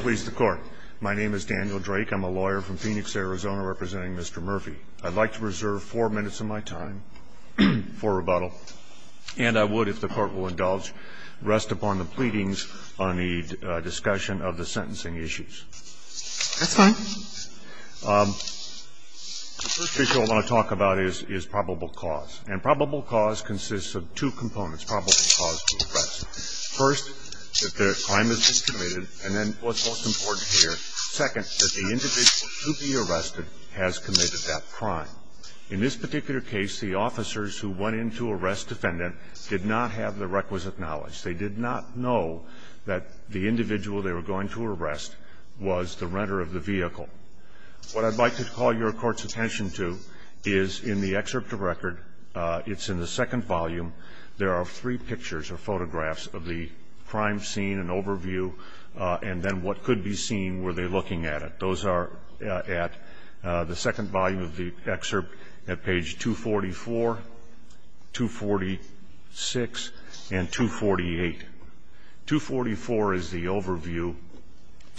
Please the court. My name is Daniel Drake. I'm a lawyer from Phoenix, Arizona, representing Mr. Murphy. I'd like to reserve four minutes of my time for rebuttal, and I would, if the court will indulge, rest upon the pleadings on the discussion of the sentencing issues. That's fine. The first issue I want to talk about is probable cause, and probable cause consists of two components, probable cause to arrest. First, that the crime has been committed, and then what's most important here, second, that the individual to be arrested has committed that crime. In this particular case, the officers who went in to arrest defendant did not have the requisite knowledge. They did not know that the individual they were going to arrest was the renter of the vehicle. What I'd like to call your Court's attention to is in the excerpt of record, it's in the second volume, there are three pictures or photographs of the crime scene, an overview, and then what could be seen, were they looking at it. Those are at the second volume of the excerpt at page 244, 246, and 248. 244 is the overview,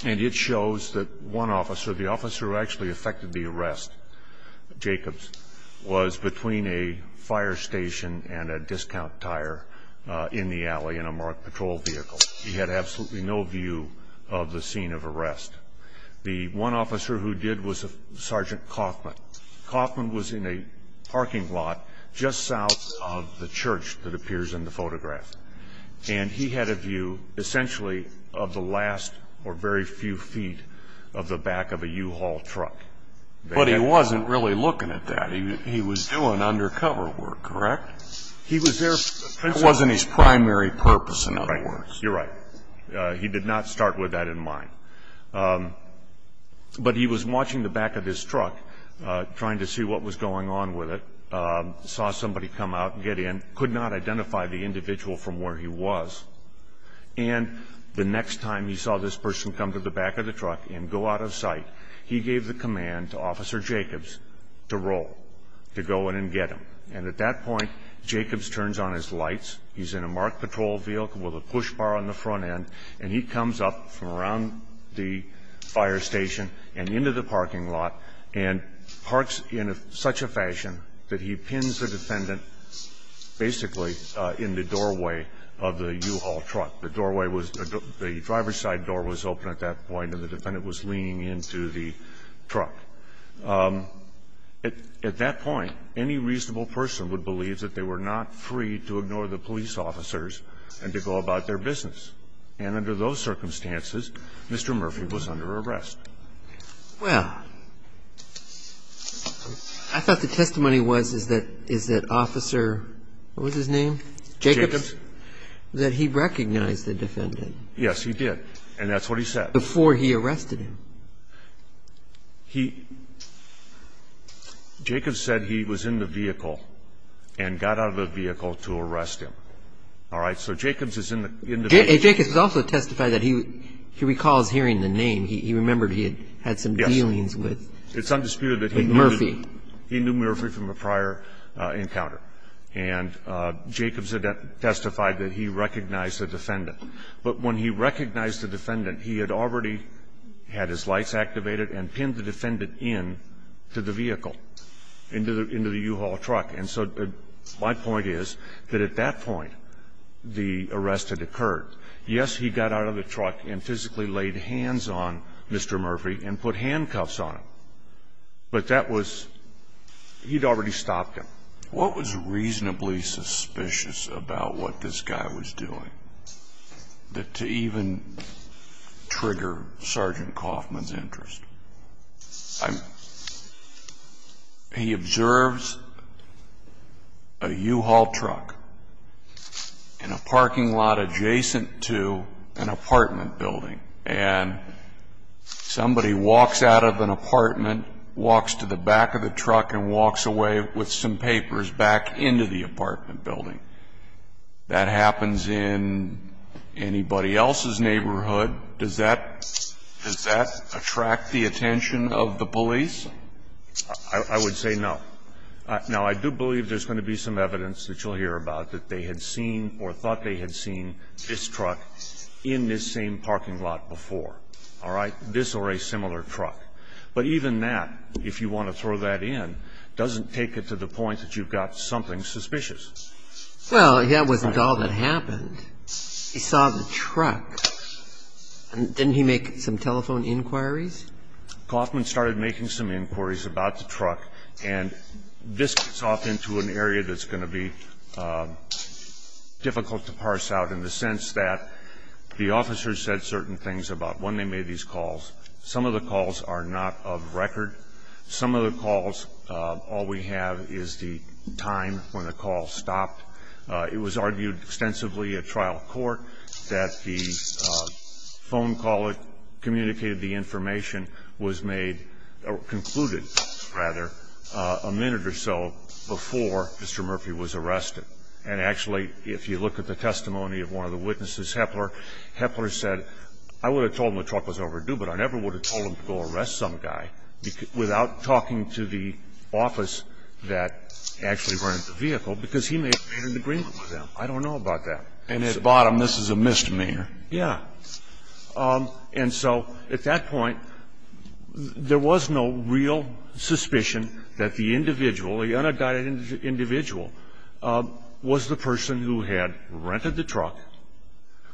and it shows that one officer, the officer who actually affected the arrest, Jacobs, was between a fire station and a discount tire in the alley in a marked patrol vehicle. He had absolutely no view of the scene of arrest. The one officer who did was Sergeant Kaufman. Kaufman was in a parking lot just south of the church that appears in the photograph, and he had a view essentially of the last or very few feet of the back of a U-Haul truck. But he wasn't really looking at that. He was doing undercover work, correct? That wasn't his primary purpose, in other words. You're right. He did not start with that in mind. But he was watching the back of his truck, trying to see what was going on with it, saw somebody come out and get in, could not identify the individual from where he was. And the next time he saw this person come to the back of the truck and go out of sight, he gave the command to Officer Jacobs to roll, to go in and get him. And at that point, Jacobs turns on his lights. He's in a marked patrol vehicle with a push bar on the front end. And he comes up from around the fire station and into the parking lot and parks in such a fashion that he pins the defendant basically in the doorway of the U-Haul truck. The doorway was the driver's side door was open at that point, and the defendant was leaning into the truck. At that point, any reasonable person would believe that they were not free to ignore the police officers and to go about their business. And under those circumstances, Mr. Murphy was under arrest. Well, I thought the testimony was, is that Officer, what was his name? Jacobs. That he recognized the defendant. Yes, he did. And that's what he said. Before he arrested him. He, Jacobs said he was in the vehicle and got out of the vehicle to arrest him. All right? So Jacobs is in the vehicle. Jacobs also testified that he recalls hearing the name. He remembered he had some dealings with Murphy. It's undisputed that he knew Murphy from a prior encounter. And Jacobs testified that he recognized the defendant. But when he recognized the defendant, he had already had his lights activated and pinned the defendant into the vehicle, into the U-Haul truck. And so my point is that at that point, the arrest had occurred. Yes, he got out of the truck and physically laid hands on Mr. Murphy and put handcuffs on him. But that was, he'd already stopped him. What was reasonably suspicious about what this guy was doing to even trigger Sergeant Kaufman's interest? He observes a U-Haul truck in a parking lot adjacent to an apartment building. And somebody walks out of an apartment, walks to the back of the truck and walks away with some papers back into the apartment building. That happens in anybody else's neighborhood. Does that attract the attention of the police? I would say no. Now, I do believe there's going to be some evidence that you'll hear about that they had seen or thought they had seen this truck in this same parking lot before. All right? This or a similar truck. But even that, if you want to throw that in, doesn't take it to the point that you've got something suspicious. Well, that wasn't all that happened. He saw the truck. Didn't he make some telephone inquiries? Kaufman started making some inquiries about the truck. And this gets off into an area that's going to be difficult to parse out in the sense that the officers said certain things about when they made these calls. Some of the calls are not of record. Some of the calls, all we have is the time when the call stopped. It was argued extensively at trial court that the phone call that communicated the information was made or concluded, rather, a minute or so before Mr. Murphy was arrested. And actually, if you look at the testimony of one of the witnesses, Hepler, Hepler said, I would have told him the truck was overdue, but I never would have told him to go arrest some guy without talking to the office that actually rented the vehicle, because he may have painted the green on them. I don't know about that. And at the bottom, this is a misdemeanor. Yeah. And so at that point, there was no real suspicion that the individual, the unindicted individual, was the person who had rented the truck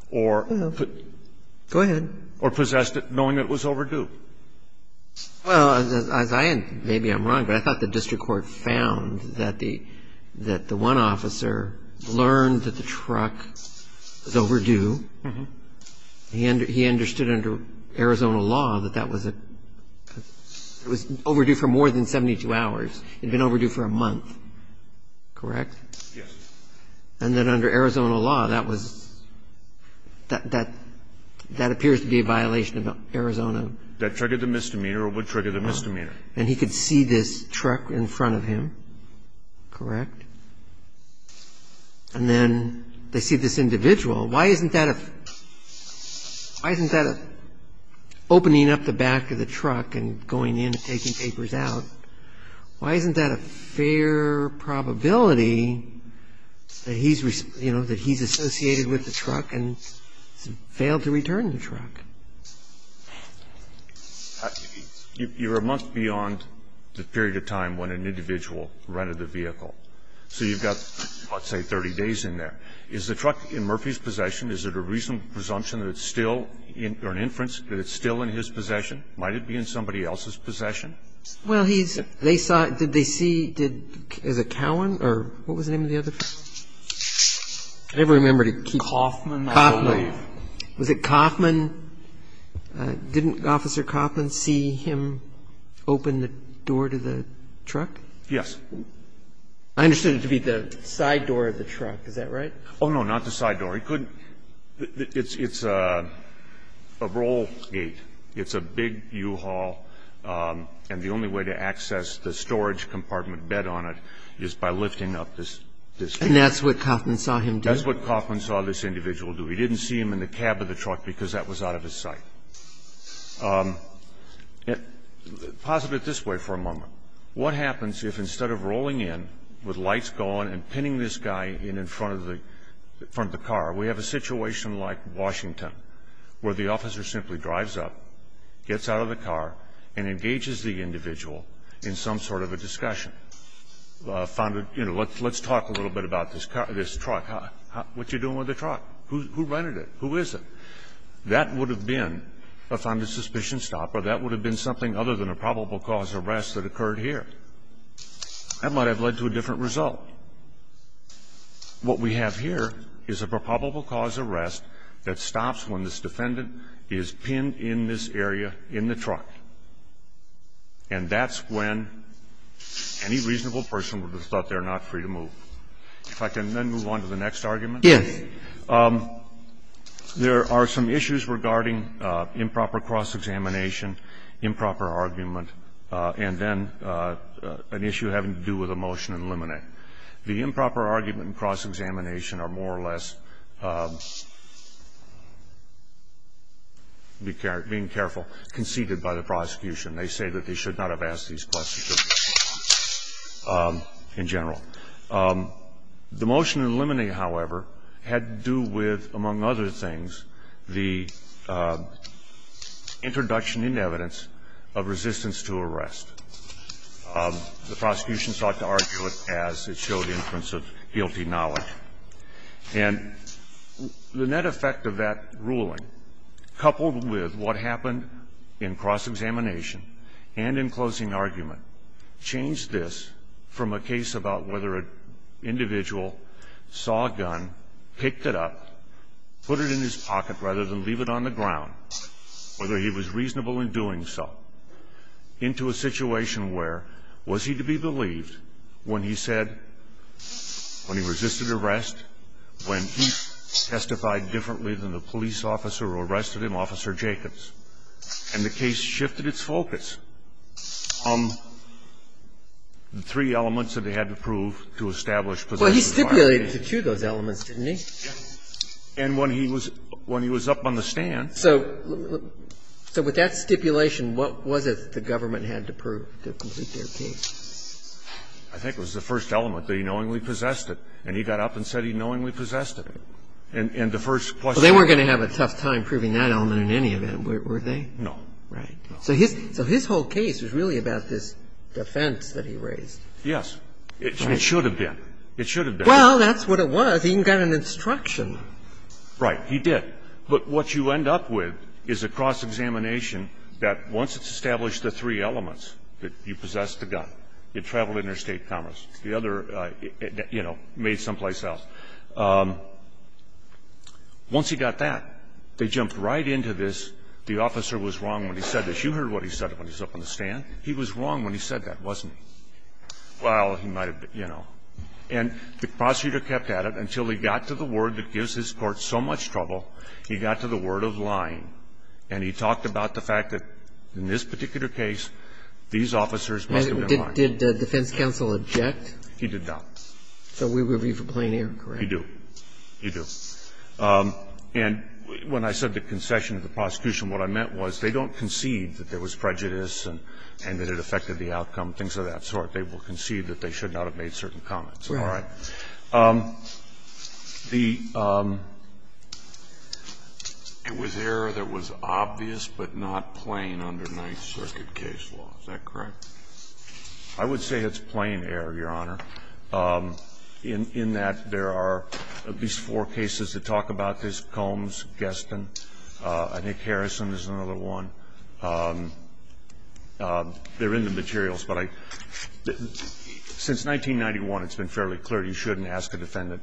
or possessed it, knowing it was overdue. Well, maybe I'm wrong, but I thought the district court found that the one officer learned that the truck was overdue. He understood under Arizona law that that was overdue for more than 72 hours. It had been overdue for a month. Correct? Yes. And that under Arizona law, that was – that appears to be a violation of Arizona. That triggered the misdemeanor or would trigger the misdemeanor. And he could see this truck in front of him. Correct. And then they see this individual. Why isn't that a – why isn't that opening up the back of the truck and going in and taking papers out? Why isn't that a fair probability that he's – you know, that he's associated with the truck and failed to return the truck? You're a month beyond the period of time when an individual rented the vehicle. So you've got, let's say, 30 days in there. Is the truck in Murphy's possession? Is it a reasonable presumption that it's still – or an inference that it's still in his possession? Might it be in somebody else's possession? Well, he's – they saw – did they see – is it Cowan or what was the name of the other guy? I never remember. Coffman, I believe. Coffman. Was it Coffman? Didn't Officer Coffman see him open the door to the truck? Yes. I understood it to be the side door of the truck. Is that right? Oh, no, not the side door. He couldn't – it's a roll gate. It's a big U-Haul, and the only way to access the storage compartment bed on it is by lifting up this gate. And that's what Coffman saw him do? That's what Coffman saw this individual do. He didn't see him in the cab of the truck because that was out of his sight. Pause a bit this way for a moment. What happens if instead of rolling in with lights going and pinning this guy in in front of the car, we have a situation like Washington where the officer simply drives up, gets out of the car, and engages the individual in some sort of a discussion? You know, let's talk a little bit about this truck. What are you doing with the truck? Who rented it? Who is it? That would have been a funded suspicion stop, or that would have been something other than a probable cause arrest that occurred here. That might have led to a different result. What we have here is a probable cause arrest that stops when this defendant is pinned in this area in the truck, and that's when any reasonable person would have thought they're not free to move. If I can then move on to the next argument. Yes. There are some issues regarding improper cross-examination, improper argument, and then an issue having to do with a motion in limine. The improper argument and cross-examination are more or less, being careful, conceded by the prosecution. They say that they should not have asked these questions in general. The motion in limine, however, had to do with, among other things, the introduction in evidence of resistance to arrest. The prosecution sought to argue it as it showed inference of guilty knowledge. And the net effect of that ruling, coupled with what happened in cross-examination and in closing argument, changed this from a case about whether an individual saw a gun, picked it up, put it in his pocket rather than leave it on the ground, whether he was reasonable in doing so, into a situation where, was he to be believed when he said, when he resisted arrest, when he testified differently than the police officer who arrested him, Officer Jacobs, and the case shifted its focus. The three elements that they had to prove to establish possession of a firearm. Breyer. Well, he stipulated the two of those elements, didn't he? And when he was up on the stand. So with that stipulation, what was it the government had to prove to complete their case? I think it was the first element, that he knowingly possessed it. And he got up and said he knowingly possessed it. And the first question. They weren't going to have a tough time proving that element in any event, were they? Right. So his whole case was really about this defense that he raised. Yes. It should have been. It should have been. Well, that's what it was. He even got an instruction. Right. He did. But what you end up with is a cross-examination that, once it's established the three elements, that you possessed the gun, you traveled interstate commerce, the other, you know, made someplace else. Once he got that, they jumped right into this. And the question is, the officer was wrong when he said this. You heard what he said when he was up on the stand. He was wrong when he said that, wasn't he? Well, he might have been, you know. And the prosecutor kept at it until he got to the word that gives this Court so much trouble, he got to the word of lying. And he talked about the fact that in this particular case, these officers must have been lying. And did the defense counsel object? So we would be for plain air, correct? You do. You do. And when I said the concession of the prosecution, what I meant was they don't concede that there was prejudice and that it affected the outcome, things of that sort. They will concede that they should not have made certain comments. All right. The ---- It was error that was obvious but not plain under Ninth Circuit case law. Is that correct? I would say it's plain error, Your Honor, in that there are at least four cases that talk about this, Combs, Geston, Nick Harrison is another one. They're in the materials, but I ---- since 1991, it's been fairly clear you shouldn't ask a defendant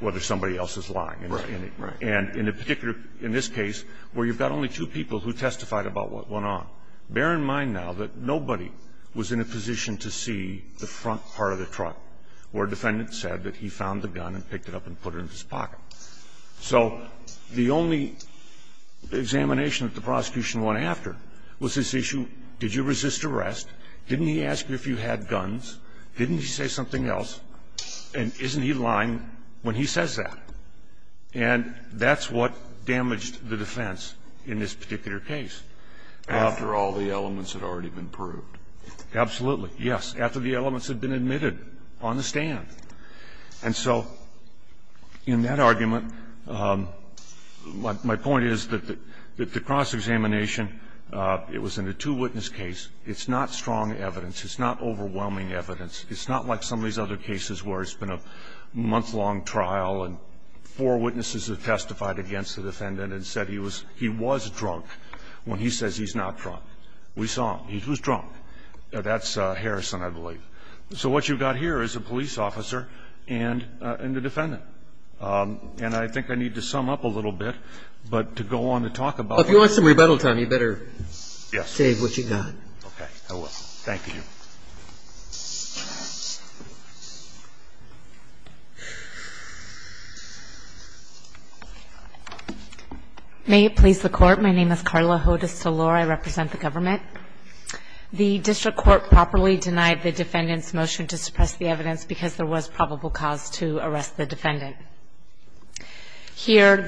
whether somebody else is lying. Right. And in a particular ---- in this case, where you've got only two people who testified about what went on, bear in mind now that nobody was in a position to see the front part of the truck where a defendant said that he found the gun and picked it up and So the only examination that the prosecution went after was this issue, did you resist arrest, didn't he ask you if you had guns, didn't he say something else, and isn't he lying when he says that? And that's what damaged the defense in this particular case. After all the elements had already been proved. Absolutely, yes. After the elements had been admitted on the stand. And so in that argument, my point is that the cross-examination, it was in a two-witness case, it's not strong evidence, it's not overwhelming evidence, it's not like some of these other cases where it's been a month-long trial and four witnesses have testified against the defendant and said he was drunk when he says he's not drunk. We saw him. He was drunk. That's Harrison, I believe. So what you've got here is a police officer and a defendant. And I think I need to sum up a little bit, but to go on to talk about If you want some rebuttal time, you better save what you've got. Okay, I will. Thank you. May it please the Court. My name is Carla Hodes-Selor. I represent the government. The district court properly denied the defendant's motion to suppress the evidence because there was probable cause to arrest the defendant. Here,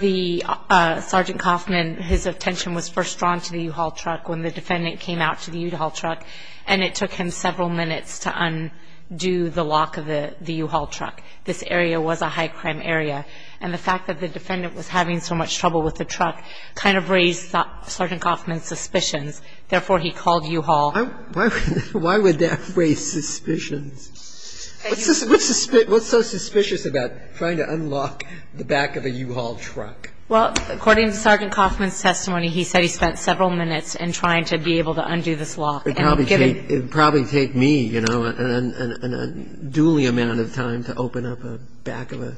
Sergeant Kaufman, his attention was first drawn to the U-Haul truck when the defendant came out to the U-Haul truck, and it took him several minutes to undo the lock of the U-Haul truck. This area was a high-crime area. And the fact that the defendant was having so much trouble with the truck kind of raised Sergeant Kaufman's suspicions. Therefore, he called U-Haul. Why would that raise suspicions? What's so suspicious about trying to unlock the back of a U-Haul truck? Well, according to Sergeant Kaufman's testimony, he said he spent several minutes in trying to be able to undo this lock. It would probably take me, you know, an unduly amount of time to open up the back of a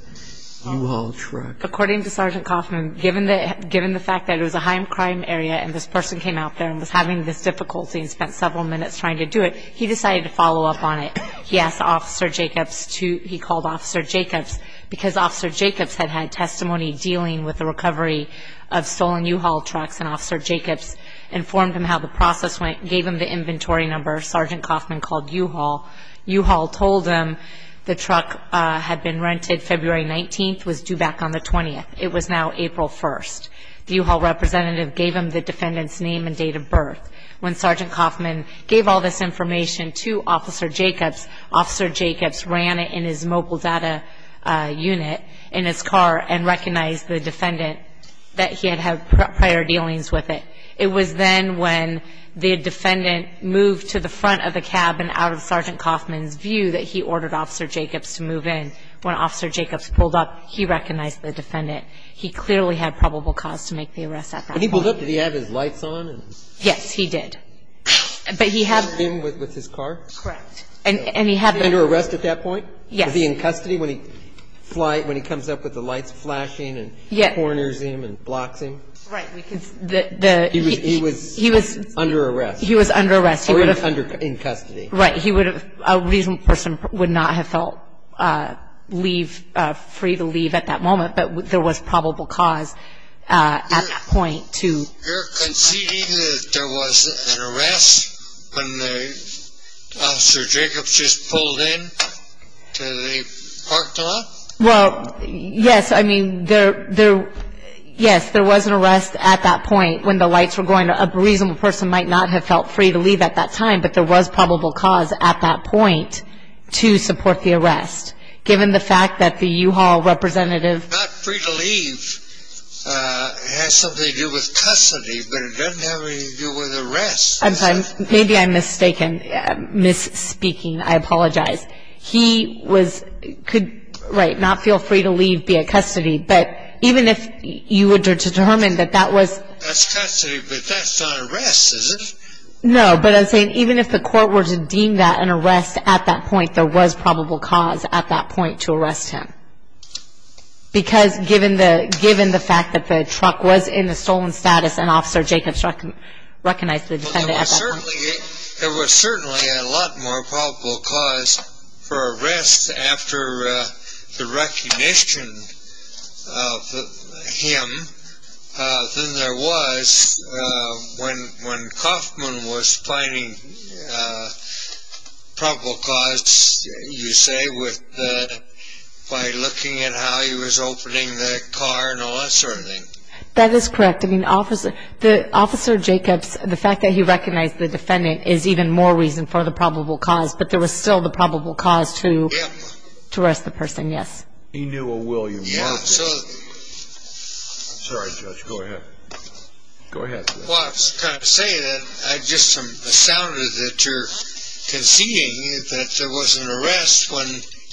U-Haul truck. According to Sergeant Kaufman, given the fact that it was a high-crime area and this person came out there and was having this difficulty and spent several minutes trying to do it, he decided to follow up on it. He asked Officer Jacobs to – he called Officer Jacobs because Officer Jacobs had had testimony dealing with the recovery of stolen U-Haul trucks, and Officer Jacobs informed him how the process went, gave him the inventory number Sergeant Kaufman called U-Haul. U-Haul told him the truck had been rented February 19th, was due back on the 20th. It was now April 1st. The U-Haul representative gave him the defendant's name and date of birth. When Sergeant Kaufman gave all this information to Officer Jacobs, Officer Jacobs ran it in his mobile data unit in his car and recognized the defendant that he had had prior dealings with it. It was then when the defendant moved to the front of the cabin out of Sergeant Kaufman's view that he ordered Officer Jacobs to move in. When Officer Jacobs pulled up, he recognized the defendant. He clearly had probable cause to make the arrest at that point. When he pulled up, did he have his lights on? Yes, he did. But he had – Was he in with his car? Correct. And he had – Was he under arrest at that point? Yes. Was he in custody when he comes up with the lights flashing and corners him and blocks him? Right. Because the – He was under arrest. He was under arrest. Or he was in custody. Right. He would have – a reasonable person would not have felt free to leave at that moment, but there was probable cause at that point to – You're conceding that there was an arrest when Officer Jacobs just pulled in to the parking lot? Well, yes. I mean, there – yes, there was an arrest at that point when the lights were going up. A reasonable person might not have felt free to leave at that time, but there was probable cause at that point to support the arrest. Given the fact that the U-Haul representative – Not free to leave has something to do with custody, but it doesn't have anything to do with arrest. I'm sorry. Maybe I'm mistaken. I'm misspeaking. I apologize. He was – could – right, not feel free to leave, be in custody, but even if you were to determine that that was – That's custody, but that's not arrest, is it? No, but I'm saying even if the court were to deem that an arrest at that point, there was probable cause at that point to arrest him. Because given the fact that the truck was in the stolen status and Officer Jacobs recognized the defendant at that point – There was certainly a lot more probable cause for arrest after the recognition of him than there was when Kauffman was finding probable cause, you say, by looking at how he was opening the car and all that sort of thing. That is correct. I mean, Officer Jacobs, the fact that he recognized the defendant is even more reason for the probable cause, but there was still the probable cause to arrest the person, yes. He knew a William Marcus. Sorry, Judge. Go ahead. Go ahead. Well, I was trying to say that I just am astounded that you're conceding that there was an arrest when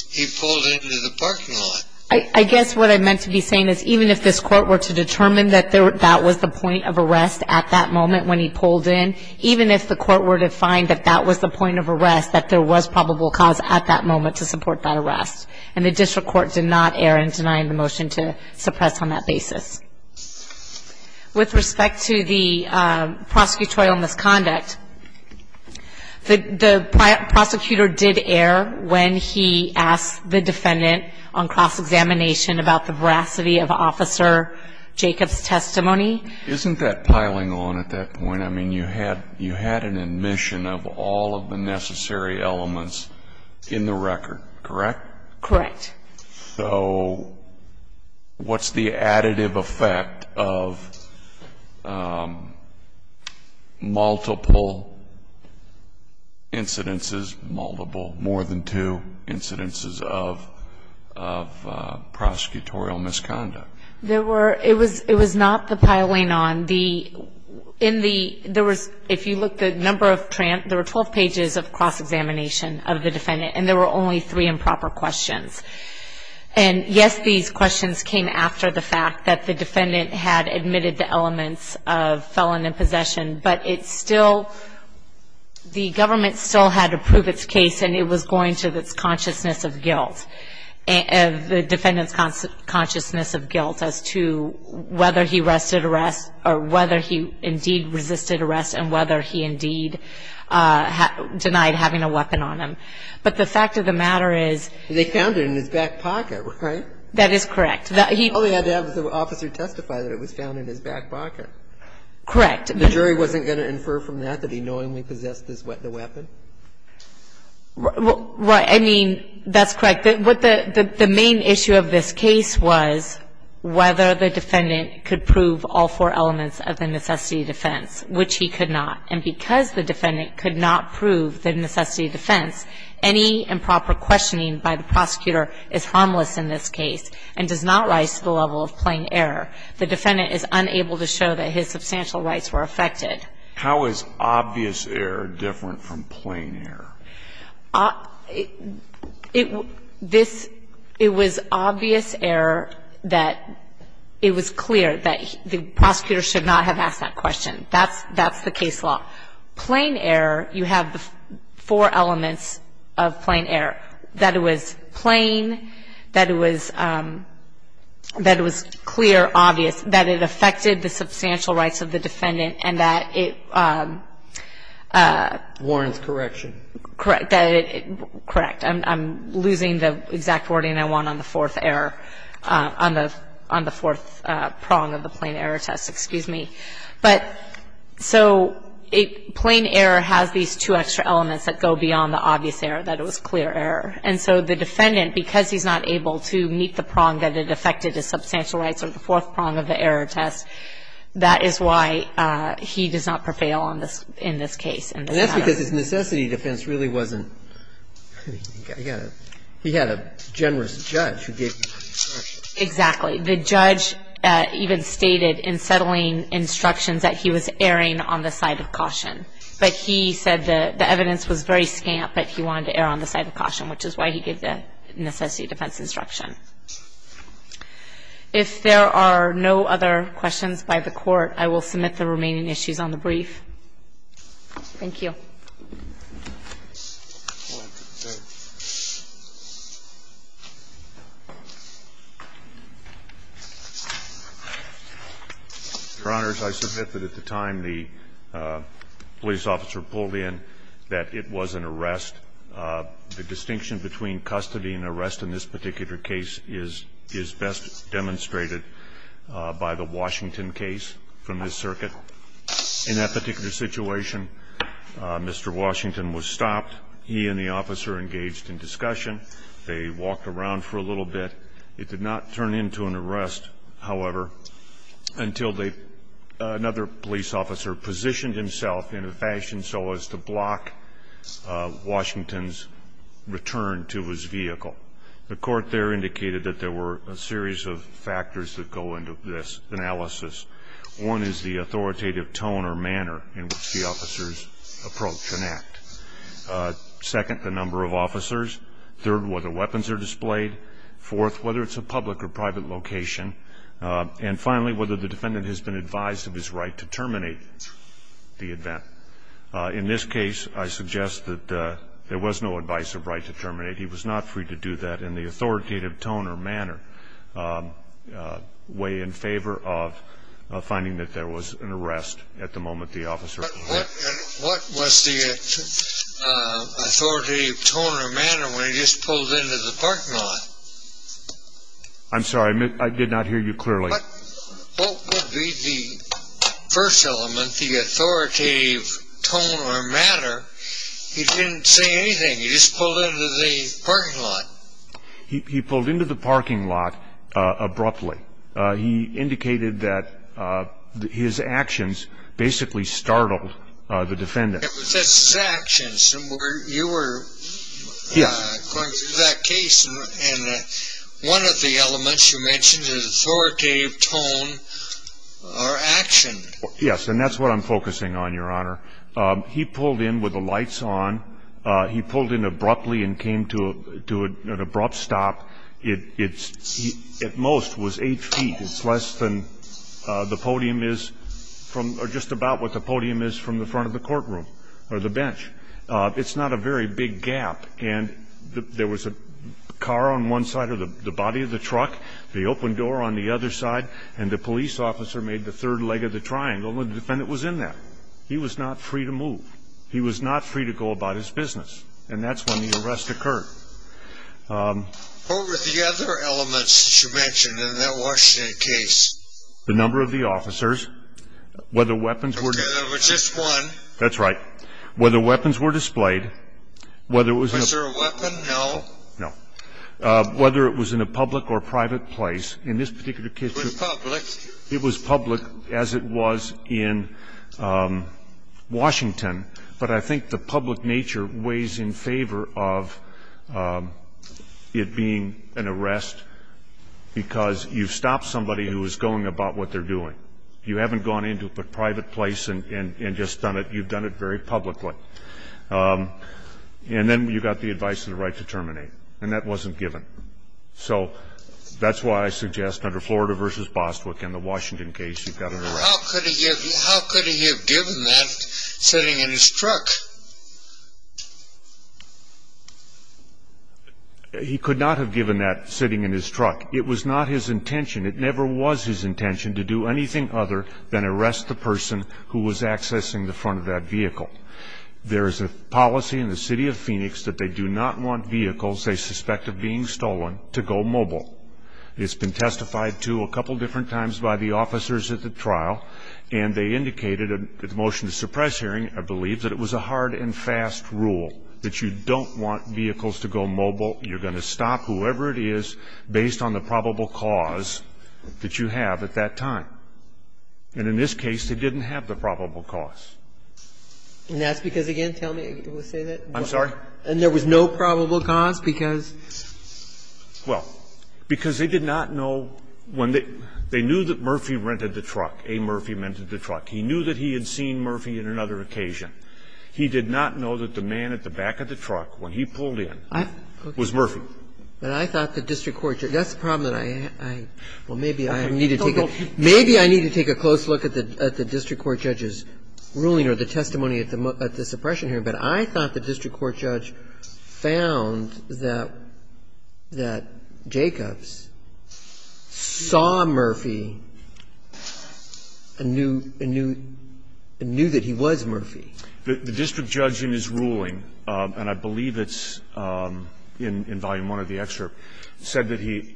he pulled into the parking lot. I guess what I meant to be saying is even if this court were to determine that that was the point of arrest at that moment when he pulled in, even if the court were to find that that was the point of arrest, that there was probable cause at that moment to support that arrest. And the district court did not err in denying the motion to suppress on that basis. With respect to the prosecutorial misconduct, the prosecutor did err when he asked the defendant on cross-examination about the veracity of Officer Jacobs' testimony. Isn't that piling on at that point? I mean, you had an admission of all of the necessary elements in the record, correct? Correct. So what's the additive effect of multiple incidences, multiple, more than two incidences of prosecutorial misconduct? It was not the piling on. If you look at the number of, there were 12 pages of cross-examination of the defendant, and there were only three improper questions. And yes, these questions came after the fact that the defendant had admitted the elements of felon and possession, but it still, the government still had to prove its case, and it was going to its consciousness of guilt, the defendant's consciousness of guilt as to whether he arrested arrest, or whether he indeed resisted arrest, and whether he indeed denied having a weapon on him. And the fact of the matter is they found it in his back pocket, right? That is correct. All they had to have was the officer testify that it was found in his back pocket. Correct. The jury wasn't going to infer from that that he knowingly possessed the weapon? Right. I mean, that's correct. The main issue of this case was whether the defendant could prove all four elements of the necessity of defense, which he could not. And because the defendant could not prove the necessity of defense, any improper questioning by the prosecutor is harmless in this case and does not rise to the level of plain error. The defendant is unable to show that his substantial rights were affected. How is obvious error different from plain error? It was obvious error that it was clear that the prosecutor should not have asked that question. That's the case law. Plain error, you have the four elements of plain error, that it was plain, that it was clear, obvious, that it affected the substantial rights of the defendant, and that it ---- Warren's correction. Correct. I'm losing the exact wording I want on the fourth error, on the fourth prong of the plain error test. Excuse me. But so plain error has these two extra elements that go beyond the obvious error, that it was clear error. And so the defendant, because he's not able to meet the prong that it affected his substantial rights or the fourth prong of the error test, that is why he does not prevail on this ---- in this case. And that's because his necessity of defense really wasn't ---- he had a generous judge who gave him ---- Exactly. The judge even stated in settling instructions that he was erring on the side of caution. But he said the evidence was very scant, but he wanted to err on the side of caution, which is why he gave the necessity of defense instruction. If there are no other questions by the Court, I will submit the remaining issues on the brief. Thank you. Your Honor, I submit that at the time the police officer pulled in that it was an arrest. The distinction between custody and arrest in this particular case is best demonstrated by the Washington case from this circuit. In that particular situation, Mr. Washington was stopped. He and the officer engaged in discussion. They walked around for a little bit. It did not turn into an arrest, however, until they ---- another police officer positioned himself in a fashion so as to block Washington's return to his vehicle. The Court there indicated that there were a series of factors that go into this analysis. One is the authoritative tone or manner in which the officers approach and act. Second, the number of officers. Third, whether weapons are displayed. Fourth, whether it's a public or private location. And finally, whether the defendant has been advised of his right to terminate the event. In this case, I suggest that there was no advice of right to terminate. He was not free to do that in the authoritative tone or manner, way in favor of finding that there was an arrest at the moment the officer ---- What was the authoritative tone or manner when he just pulled into the parking lot? I'm sorry. I did not hear you clearly. What would be the first element, the authoritative tone or manner? He didn't say anything. He just pulled into the parking lot. He pulled into the parking lot abruptly. He indicated that his actions basically startled the defendant. It was just his actions. You were going through that case, and one of the elements you mentioned is authoritative tone or action. Yes, and that's what I'm focusing on, Your Honor. He pulled in with the lights on. He pulled in abruptly and came to an abrupt stop. At most, it was eight feet. It's less than the podium is or just about what the podium is from the front of the courtroom or the bench. It's not a very big gap, and there was a car on one side or the body of the truck, the open door on the other side, and the police officer made the third leg of the triangle, and the defendant was in that. He was not free to move. He was not free to go about his business, and that's when the arrest occurred. What were the other elements that you mentioned in that Washington case? The number of the officers. Okay, there was just one. That's right. Whether weapons were displayed. Was there a weapon? No. No. Whether it was in a public or private place. It was public. It was public as it was in Washington, but I think the public nature weighs in favor of it being an arrest, because you've stopped somebody who is going about what they're doing. You haven't gone into a private place and just done it. You've done it very publicly. And then you've got the advice of the right to terminate, and that wasn't given. So that's why I suggest under Florida v. Bostwick and the Washington case, you've got an arrest. How could he have given that sitting in his truck? He could not have given that sitting in his truck. It was not his intention. It never was his intention to do anything other than arrest the person who was accessing the front of that vehicle. There is a policy in the city of Phoenix that they do not want vehicles they suspect of being stolen to go mobile. It's been testified to a couple different times by the officers at the trial, and they indicated at the motion to suppress hearing, I believe, that it was a hard and fast rule that you don't want vehicles to go mobile. You're going to stop whoever it is based on the probable cause that you have at that time. And in this case, they didn't have the probable cause. And that's because, again, tell me, did you say that? I'm sorry? And there was no probable cause because? Well, because they did not know when they knew that Murphy rented the truck, A. Murphy rented the truck. He knew that he had seen Murphy on another occasion. He did not know that the man at the back of the truck when he pulled in was Murphy. But I thought the district court judge – that's the problem that I – well, maybe I need to take a – maybe I need to take a close look at the district court judge's ruling or the testimony at the suppression hearing. But I thought the district court judge found that Jacobs saw Murphy and knew that he was Murphy. The district judge in his ruling, and I believe it's in volume one of the excerpt, said that he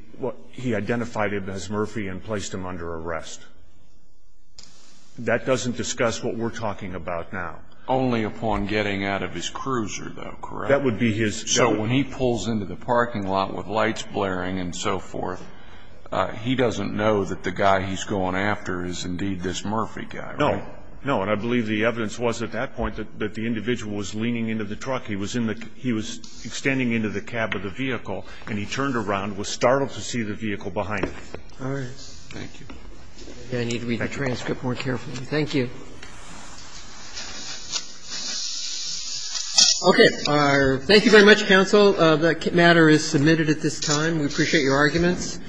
identified him as Murphy and placed him under arrest. That doesn't discuss what we're talking about now. The district court judge in his ruling said that he identified him as Murphy and placed him under arrest. Only upon getting out of his cruiser, though, correct? That would be his – So when he pulls into the parking lot with lights blaring and so forth, he doesn't know that the guy he's going after is indeed this Murphy guy, right? No. No. And I believe the evidence was at that point that the individual was leaning into the truck. He was in the – he was extending into the cab of the vehicle and he turned around, was startled to see the vehicle behind him. All right. Thank you. I need to read the transcript more carefully. Thank you. Okay. Thank you very much, counsel. The matter is submitted at this time. We appreciate your arguments. Thank you.